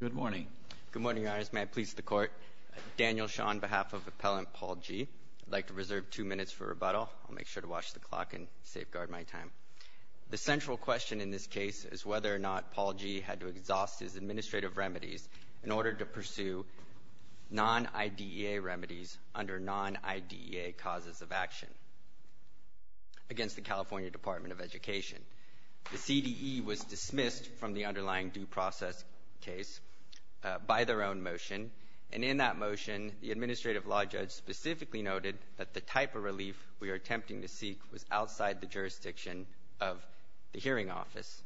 Good morning. Good morning, Your Honors. May I please the Court? Daniel Sean, on behalf of Appellant Paul G., I'd like to reserve two minutes for rebuttal. I'll make sure to watch the clock and safeguard my time. The central question in this case is whether or not Paul G. had to exhaust his administrative remedies in order to pursue non-IDEA remedies under non-IDEA causes of action against the California Department of Education. The CDE was dismissed from the underlying due process case by their own motion, and in that motion the administrative law judge specifically noted that the type of relief we are attempting to seek was outside the jurisdiction of the hearing office.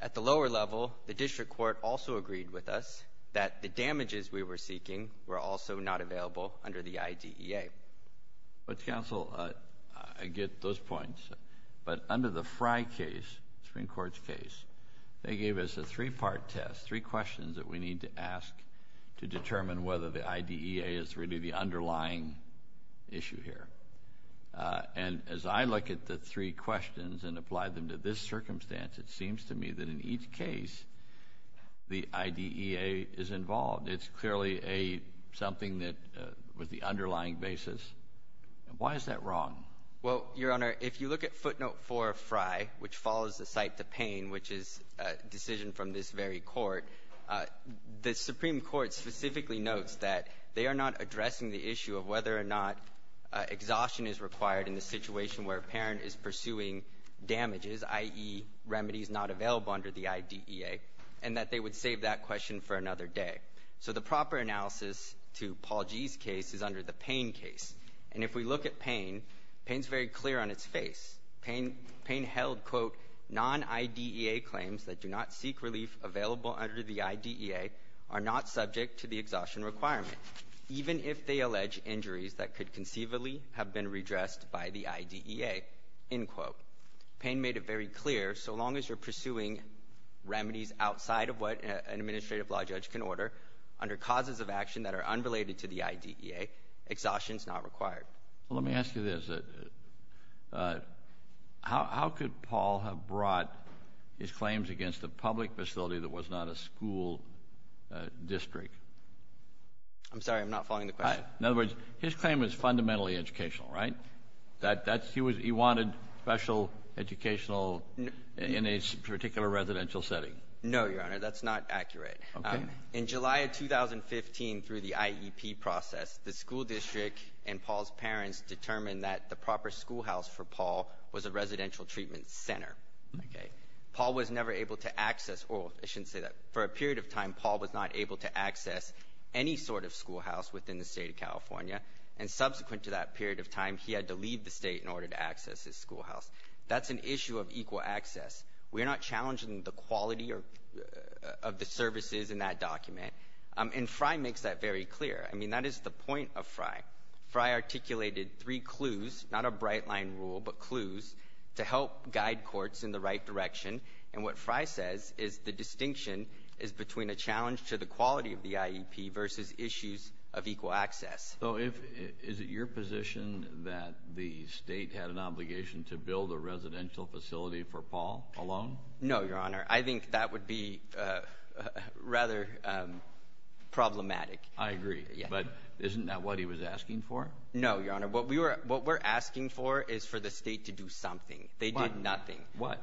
At the lower level, the district court also agreed with us that the damages we were seeking were also not available under the IDEA. Mr. Counsel, I get those points. But under the Fry case, the Supreme Court's case, they gave us a three-part test, three questions that we need to ask to determine whether the IDEA is really the underlying issue here. And as I look at the three questions and apply them to this circumstance, it seems to me that in each case the IDEA is involved. It's clearly a something that was the underlying basis. Why is that wrong? Well, Your Honor, if you look at footnote 4 of Fry, which follows the cite to Payne, which is a decision from this very court, the Supreme Court specifically notes that they are not addressing the issue of whether or not exhaustion is required in the situation where a parent is pursuing damages, i.e., remedies not available under the IDEA, and that they would save that question for another day. So the proper analysis to Paul G.'s case is under the Payne case. And if we look at Payne, Payne is very clear on its face. Payne held, quote, non-IDEA claims that do not seek relief available under the IDEA are not subject to the exhaustion requirement, even if they allege injuries that could conceivably have been redressed by the IDEA, end quote. Payne made it very clear, so long as you're pursuing remedies outside of what an administrative law judge can order under causes of action that are unrelated to the IDEA, exhaustion is not required. Well, let me ask you this. How could Paul have brought his claims against a public facility that was not a school district? I'm sorry. I'm not following the question. In other words, his claim is fundamentally educational, right? That's he was he wanted special educational in a particular residential setting. No, Your Honor. That's not accurate. Okay. In July of 2015, through the IEP process, the school district and Paul's parents determined that the proper schoolhouse for Paul was a residential treatment center. Okay. Paul was never able to access or I shouldn't say that. For a period of time, Paul was not able to access any sort of schoolhouse within the State of California. And subsequent to that period of time, he had to leave the state in order to access his schoolhouse. That's an issue of equal access. We're not challenging the quality of the services in that document. And Fry makes that very clear. I mean, that is the point of Fry. Fry articulated three clues, not a bright line rule, but clues to help guide courts in the right direction. And what Fry says is the distinction is between a challenge to the quality of the IEP versus issues of equal access. So is it your position that the state had an obligation to build a residential facility for Paul alone? No, Your Honor. I think that would be rather problematic. I agree. But isn't that what he was asking for? No, Your Honor. What we're asking for is for the state to do something. They did nothing. What?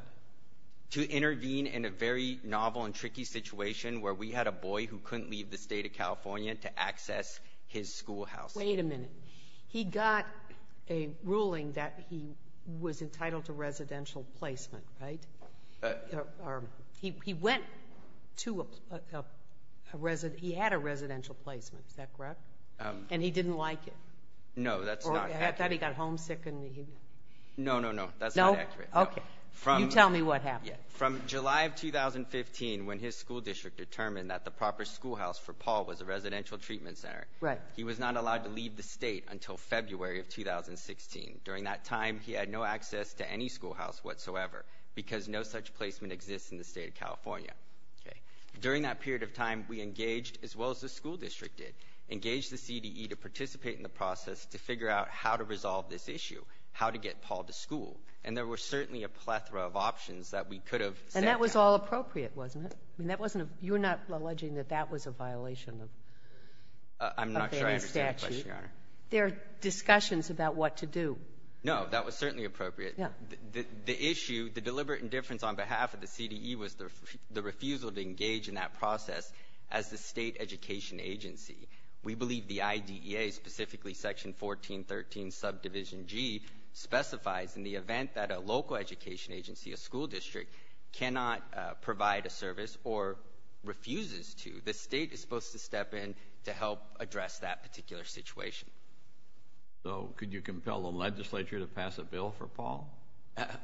To intervene in a very novel and tricky situation where we had a boy who couldn't leave the State of California to access his schoolhouse. Wait a minute. He got a ruling that he was entitled to residential placement, right? He went to a resident — he had a residential placement. Is that correct? And he didn't like it? No, that's not accurate. Or at that, he got homesick and he — No, no, no. That's not accurate. No? Okay. You tell me what happened. From July of 2015, when his school district determined that the proper schoolhouse for Paul was a residential treatment center. Right. He was not allowed to leave the State until February of 2016. During that time, he had no access to any schoolhouse whatsoever because no such placement exists in the State of California. During that period of time, we engaged, as well as the school district did, engaged the CDE to participate in the process to figure out how to resolve this issue, how to get Paul to school. And there were certainly a plethora of options that we could have sent out. And that was all appropriate, wasn't it? I mean, that wasn't a — you're not alleging that that was a violation of the statute? I'm not sure I understand the question, Your Honor. There are discussions about what to do. No, that was certainly appropriate. Yeah. The issue, the deliberate indifference on behalf of the CDE was the refusal to engage in that process as the State education agency. We believe the IDEA, specifically Section 1413 Subdivision G, specifies in the event that a local education agency, a school district, cannot provide a service or refuses to, the State is supposed to step in to help address that particular situation. So could you compel the legislature to pass a bill for Paul?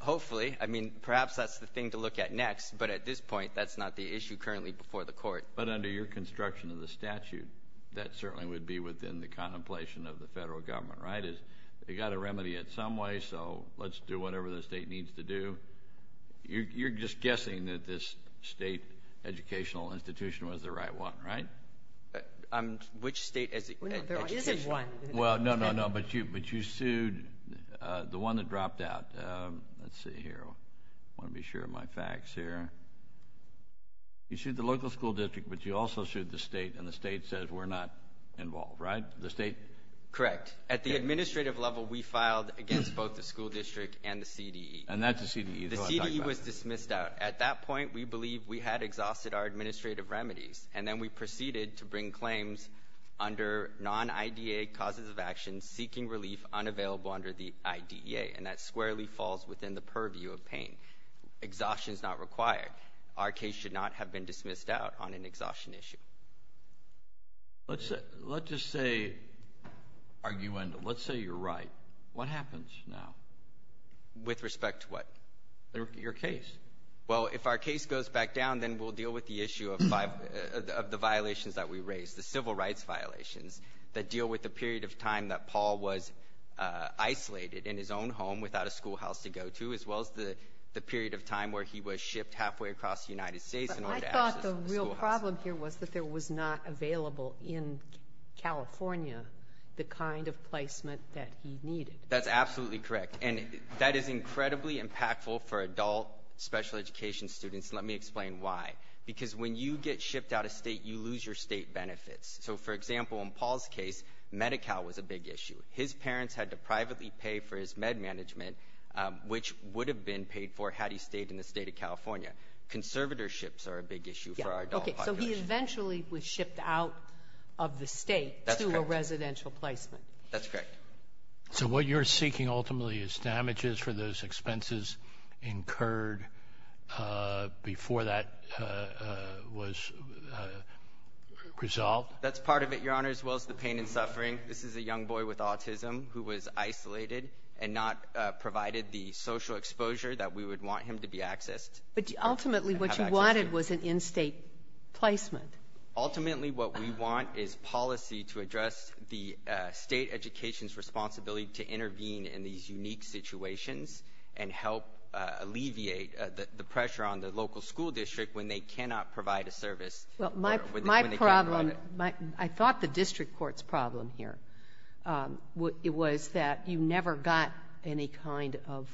Hopefully. I mean, perhaps that's the thing to look at next. But at this point, that's not the issue currently before the Court. But under your construction of the statute, that certainly would be within the contemplation of the Federal Government, right? They've got to remedy it some way, so let's do whatever the State needs to do. You're just guessing that this State educational institution was the right one, right? Which State education? There isn't one. Well, no, no, no. But you sued the one that dropped out. Let's see here. I want to be sure of my facts here. You sued the local school district, but you also sued the State, and the State says we're not involved, right? The State? Correct. At the administrative level, we filed against both the school district and the CDE. And that's the CDE? The CDE was dismissed out. At that point, we believed we had exhausted our administrative remedies, and then we proceeded to bring claims under non-IDEA causes of action seeking relief unavailable under the IDEA, and that squarely falls within the purview of pain. Exhaustion is not required. Our case should not have been dismissed out on an exhaustion issue. Let's just say, arguendo, let's say you're right. What happens now? With respect to what? Your case. Well, if our case goes back down, then we'll deal with the issue of the violations that we raised, the civil rights violations that deal with the period of time that he was shipped halfway across the United States in order to access the schoolhouse. But I thought the real problem here was that there was not available in California the kind of placement that he needed. That's absolutely correct. And that is incredibly impactful for adult special education students. Let me explain why. Because when you get shipped out of State, you lose your State benefits. So, for example, in Paul's case, Medi-Cal was a big issue. His parents had to privately pay for his med management, which would have been paid for had he stayed in the State of California. Conservatorships are a big issue for our adult population. Okay. So he eventually was shipped out of the State to a residential placement. That's correct. So what you're seeking ultimately is damages for those expenses incurred before that was resolved? That's part of it, Your Honor, as well as the pain and suffering. This is a young boy with autism who was isolated and not provided the social exposure that we would want him to be accessed. But ultimately, what you wanted was an in-State placement. Ultimately, what we want is policy to address the State education's responsibility to intervene in these unique situations and help alleviate the pressure on the local school district when they cannot provide a service. Well, my problem, I thought the district court's problem here was that you never got any kind of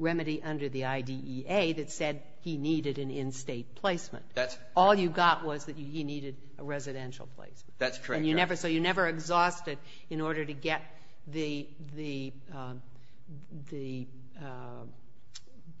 remedy under the IDEA that said he needed an in-State placement. That's correct. All you got was that he needed a residential placement. That's correct, Your Honor. So you never exhausted in order to get the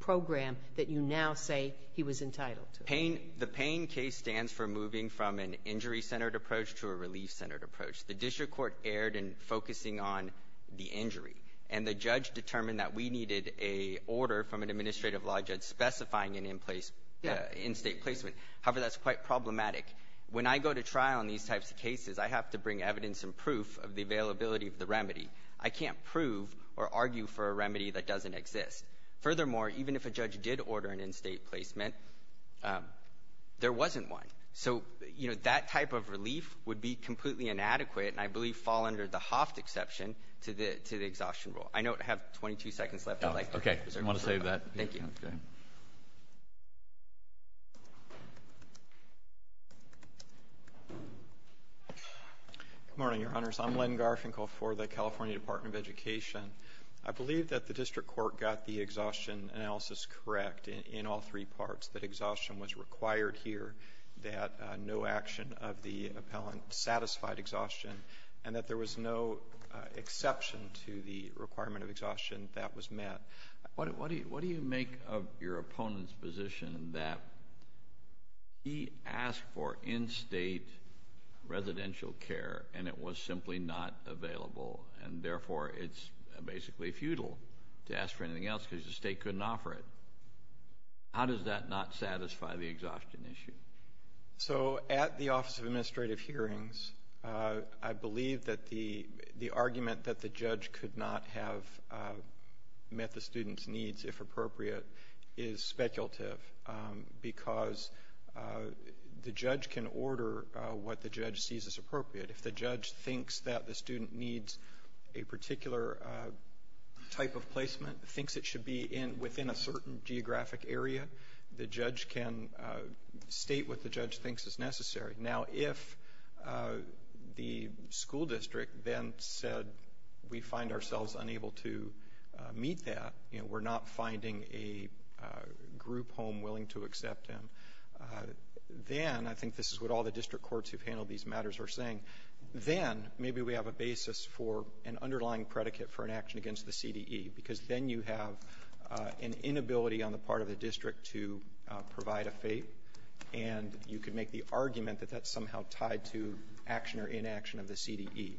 program that you now say he was entitled to. The pain case stands for moving from an injury-centered approach to a relief-centered approach. The district court erred in focusing on the injury. And the judge determined that we needed an order from an administrative law judge specifying an in-State placement. However, that's quite problematic. When I go to trial in these types of cases, I have to bring evidence and proof of the availability of the remedy. I can't prove or argue for a remedy that doesn't exist. Furthermore, even if a judge did order an in-State placement, there wasn't one. So, you know, that type of relief would be completely inadequate and I believe fall under the Hoft exception to the exhaustion rule. I know I have 22 seconds left. I'd like to reserve that. Okay. I want to save that. Thank you. Okay. Good morning, Your Honors. I'm Len Garfinkel for the California Department of Education. I believe that the district court got the exhaustion analysis correct in all three parts, that exhaustion was required here, that no action of the appellant satisfied exhaustion, and that there was no exception to the requirement of exhaustion that was met. What do you make of your opponent's position that he asked for in-State residential care and it was simply not available and therefore it's basically futile to ask for anything else because the State couldn't offer it? How does that not satisfy the exhaustion issue? So, at the Office of Administrative Hearings, I believe that the argument that the student needs, if appropriate, is speculative because the judge can order what the judge sees as appropriate. If the judge thinks that the student needs a particular type of placement, thinks it should be within a certain geographic area, the judge can state what the judge thinks is necessary. Now, if the school district then said we find ourselves unable to meet that, you know, we're not finding a group home willing to accept him, then, I think this is what all the district courts who've handled these matters are saying, then maybe we have a basis for an underlying predicate for an action against the CDE because then you have an inability on the part of the district to provide a FAPE and you could make the argument that that's somehow tied to action or inaction of the CDE.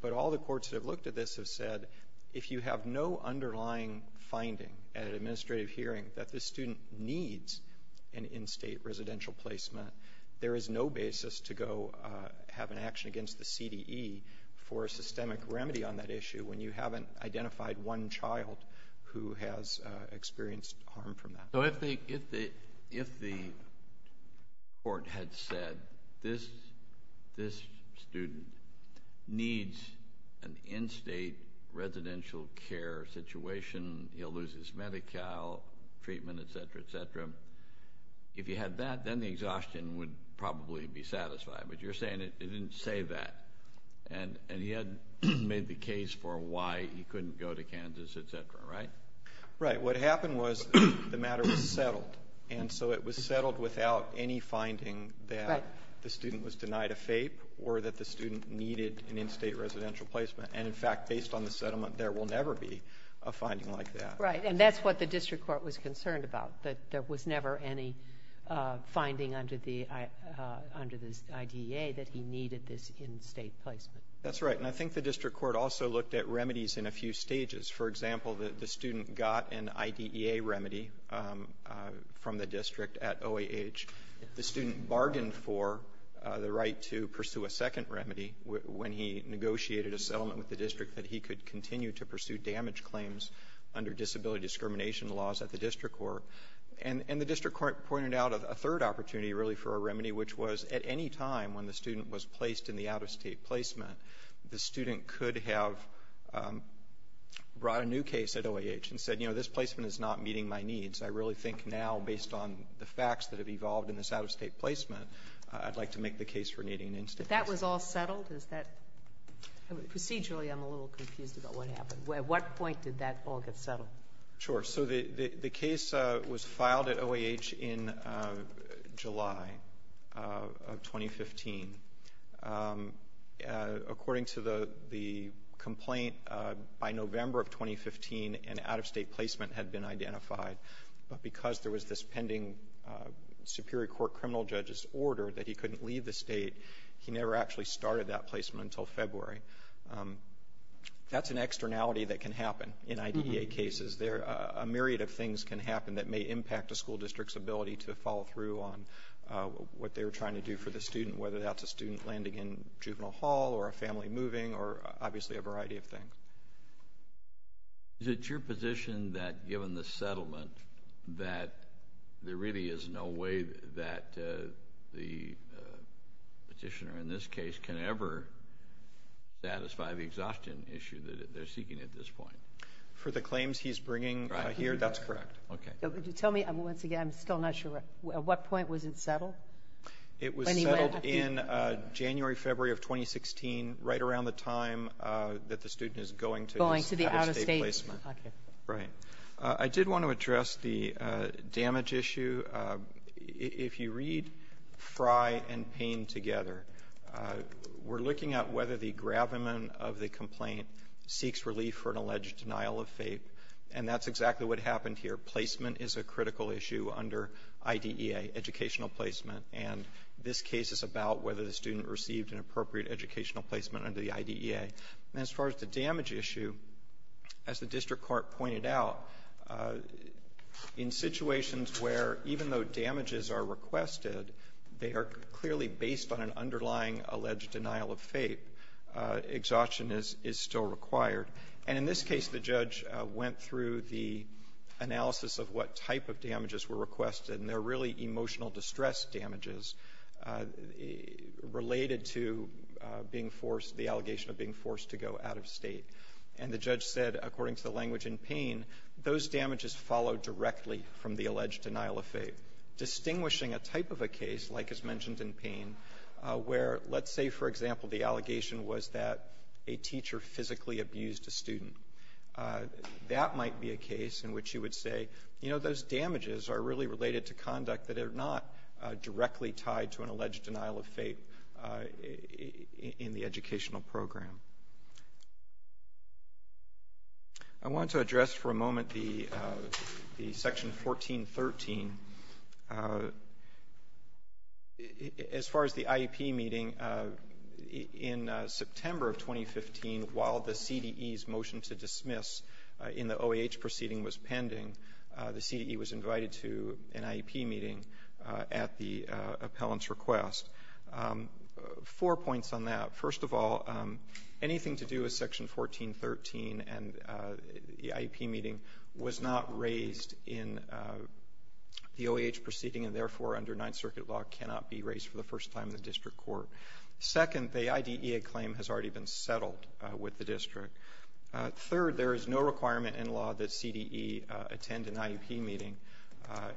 But all the courts that have looked at this have said if you have no underlying finding at an administrative hearing that the student needs an in-State residential placement, there is no basis to go have an action against the CDE for a systemic remedy on that issue when you haven't identified one child who has experienced harm from that. So if the court had said this student needs an in-State residential care situation, he'll lose his Medi-Cal treatment, et cetera, et cetera, if you had that, then the exhaustion would probably be satisfied. But you're saying it didn't say that. And he had made the case for why he couldn't go to Kansas, et cetera, right? Right. What happened was the matter was settled. And so it was settled without any finding that the student was denied a FAPE or that the student needed an in-State residential placement. And, in fact, based on the settlement, there will never be a finding like that. Right. And that's what the district court was concerned about, that there was never any finding under the IDEA that he needed this in-State placement. That's right. And I think the district court also looked at remedies in a few stages. For example, the student got an IDEA remedy from the district at OAH. The student bargained for the right to pursue a second remedy when he negotiated a settlement with the district that he could continue to pursue damage claims under disability discrimination laws at the district court. And the district court pointed out a third opportunity, really, for a remedy, which was at any time when the student was placed in the out-of-State placement, the student could have brought a new case at OAH and said, you know, this placement is not meeting my needs. I really think now, based on the facts that have evolved in this out-of-State placement, I'd like to make the case for needing an in-State. But that was all settled? Is that — procedurally, I'm a little confused about what happened. At what point did that all get settled? So the case was filed at OAH in July of 2015. According to the complaint, by November of 2015, an out-of-State placement had been identified. But because there was this pending Superior Court criminal judge's order that he couldn't leave the State, he never actually started that placement until February. That's an externality that can happen in IDEA cases. There are a myriad of things that can happen that may impact a school district's ability to follow through on what they're trying to do for the student, whether that's a student landing in Juvenile Hall or a family moving or, obviously, a variety of things. Is it your position that, given the settlement, that there really is no way that the petitioner in this case can ever satisfy the exhaustion issue that they're seeking at this point? For the claims he's bringing here, that's correct. Okay. Tell me, once again, I'm still not sure. At what point was it settled? It was settled in January, February of 2016, right around the time that the student is going to his out-of-State placement. Going to the out-of-State. Right. I did want to address the damage issue. If you read Frye and Payne together, we're looking at whether the gravamen of the complaint seeks relief for an alleged denial of FAPE. And that's exactly what happened here. Placement is a critical issue under IDEA, educational placement. And this case is about whether the student received an appropriate educational placement under the IDEA. And as far as the damage issue, as the district court pointed out, in situations where, even though damages are requested, they are clearly based on an underlying alleged denial of FAPE, exhaustion is still required. And in this case, the judge went through the analysis of what type of damages were requested, and they're really emotional distress damages related to being forced, the allegation of being forced to go out-of-State. And the judge said, according to the language in Payne, those damages follow directly from the alleged denial of FAPE. Distinguishing a type of a case, like is mentioned in Payne, where, let's say, for example, the allegation was that a teacher physically abused a student, that might be a case in which you would say, you know, those damages are really related to conduct that are not directly tied to an alleged denial of FAPE in the educational program. I want to address for a moment the Section 1413. As far as the IEP meeting, in September of 2015, while the CDE's motion to dismiss in the OAH proceeding was pending, the CDE was invited to an IEP meeting at the appellant's request. Four points on that. First of all, anything to do with Section 1413 and the IEP meeting was not raised in the OAH proceeding, and therefore, under Ninth Circuit law, cannot be raised for the first time in the district court. Second, the IDEA claim has already been settled with the district. Third, there is no requirement in law that CDE attend an IEP meeting,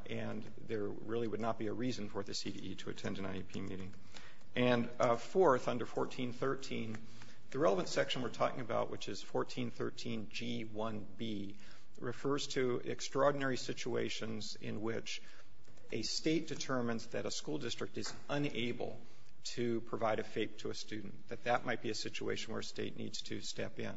and there really would not be a reason for the CDE to attend an IEP meeting. And fourth, under 1413, the relevant section we're talking about, which is 1413 G1B, refers to extraordinary situations in which a State determines that a school district is unable to provide a FAPE to a student, that that might be a situation where a State needs to step in.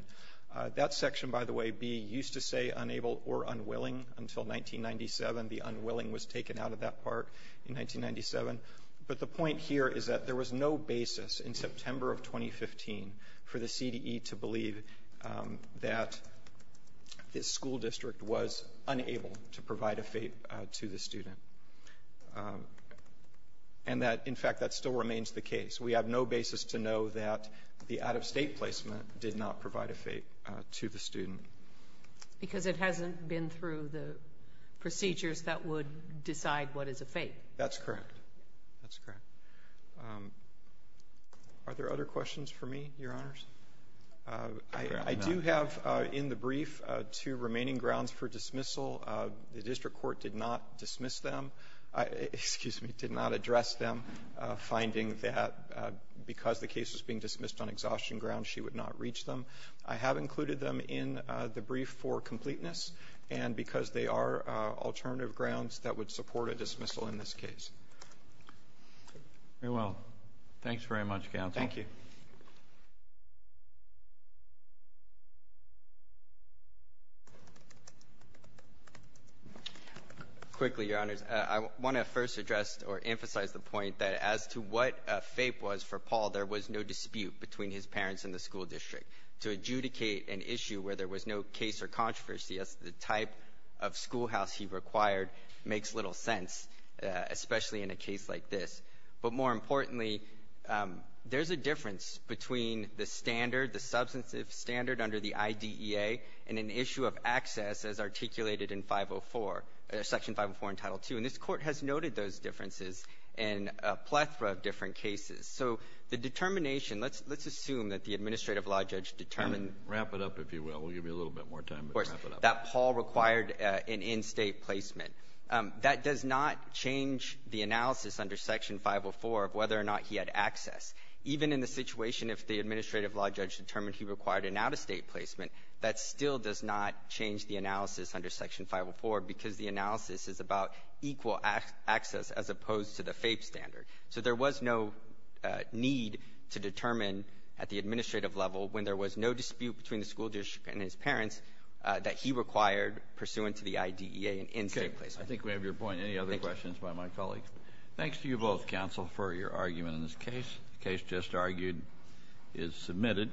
That section, by the way, B, used to say unable or unwilling. Until 1997, the unwilling was taken out of that part in 1997. But the point here is that there was no basis in September of 2015 for the CDE to believe that this school district was unable to provide a FAPE to the student, and that, in fact, that still remains the case. We have no basis to know that the out-of-State placement did not provide a FAPE to the student. Because it hasn't been through the procedures that would decide what is a FAPE. That's correct. That's correct. Are there other questions for me, Your Honors? I do have in the brief two remaining grounds for dismissal. The district court did not dismiss them. Excuse me. Did not address them, finding that because the case was being dismissed on exhaustion grounds, she would not reach them. I have included them in the brief for completeness and because they are alternative grounds that would support a dismissal in this case. Very well. Thanks very much, counsel. Thank you. Quickly, Your Honors, I want to first address or emphasize the point that as to what FAPE was for Paul, there was no dispute between his parents and the school district. To adjudicate an issue where there was no case or controversy as to the type of school house he required makes little sense, especially in a case like this. But more importantly, there's a difference between the standard, the substantive standard under the IDEA and an issue of access as articulated in 504, Section 504 in Title II. And this Court has noted those differences in a plethora of different cases. So the determination, let's assume that the administrative law judge determined Wrap it up, if you will. We'll give you a little bit more time. Of course. Wrap it up. That Paul required an in-State placement. That does not change the analysis under Section 504 of whether or not he had access. Even in the situation if the administrative law judge determined he required an out-of-State placement, that still does not change the analysis under Section 504 because the analysis is about equal access as opposed to the FAPE standard. So there was no need to determine at the administrative level when there was no dispute between the school judge and his parents that he required pursuant to the IDEA an in-State placement. Kennedy. I think we have your point. Any other questions by my colleagues? Thanks to you both, counsel, for your argument in this case. The case just argued is submitted.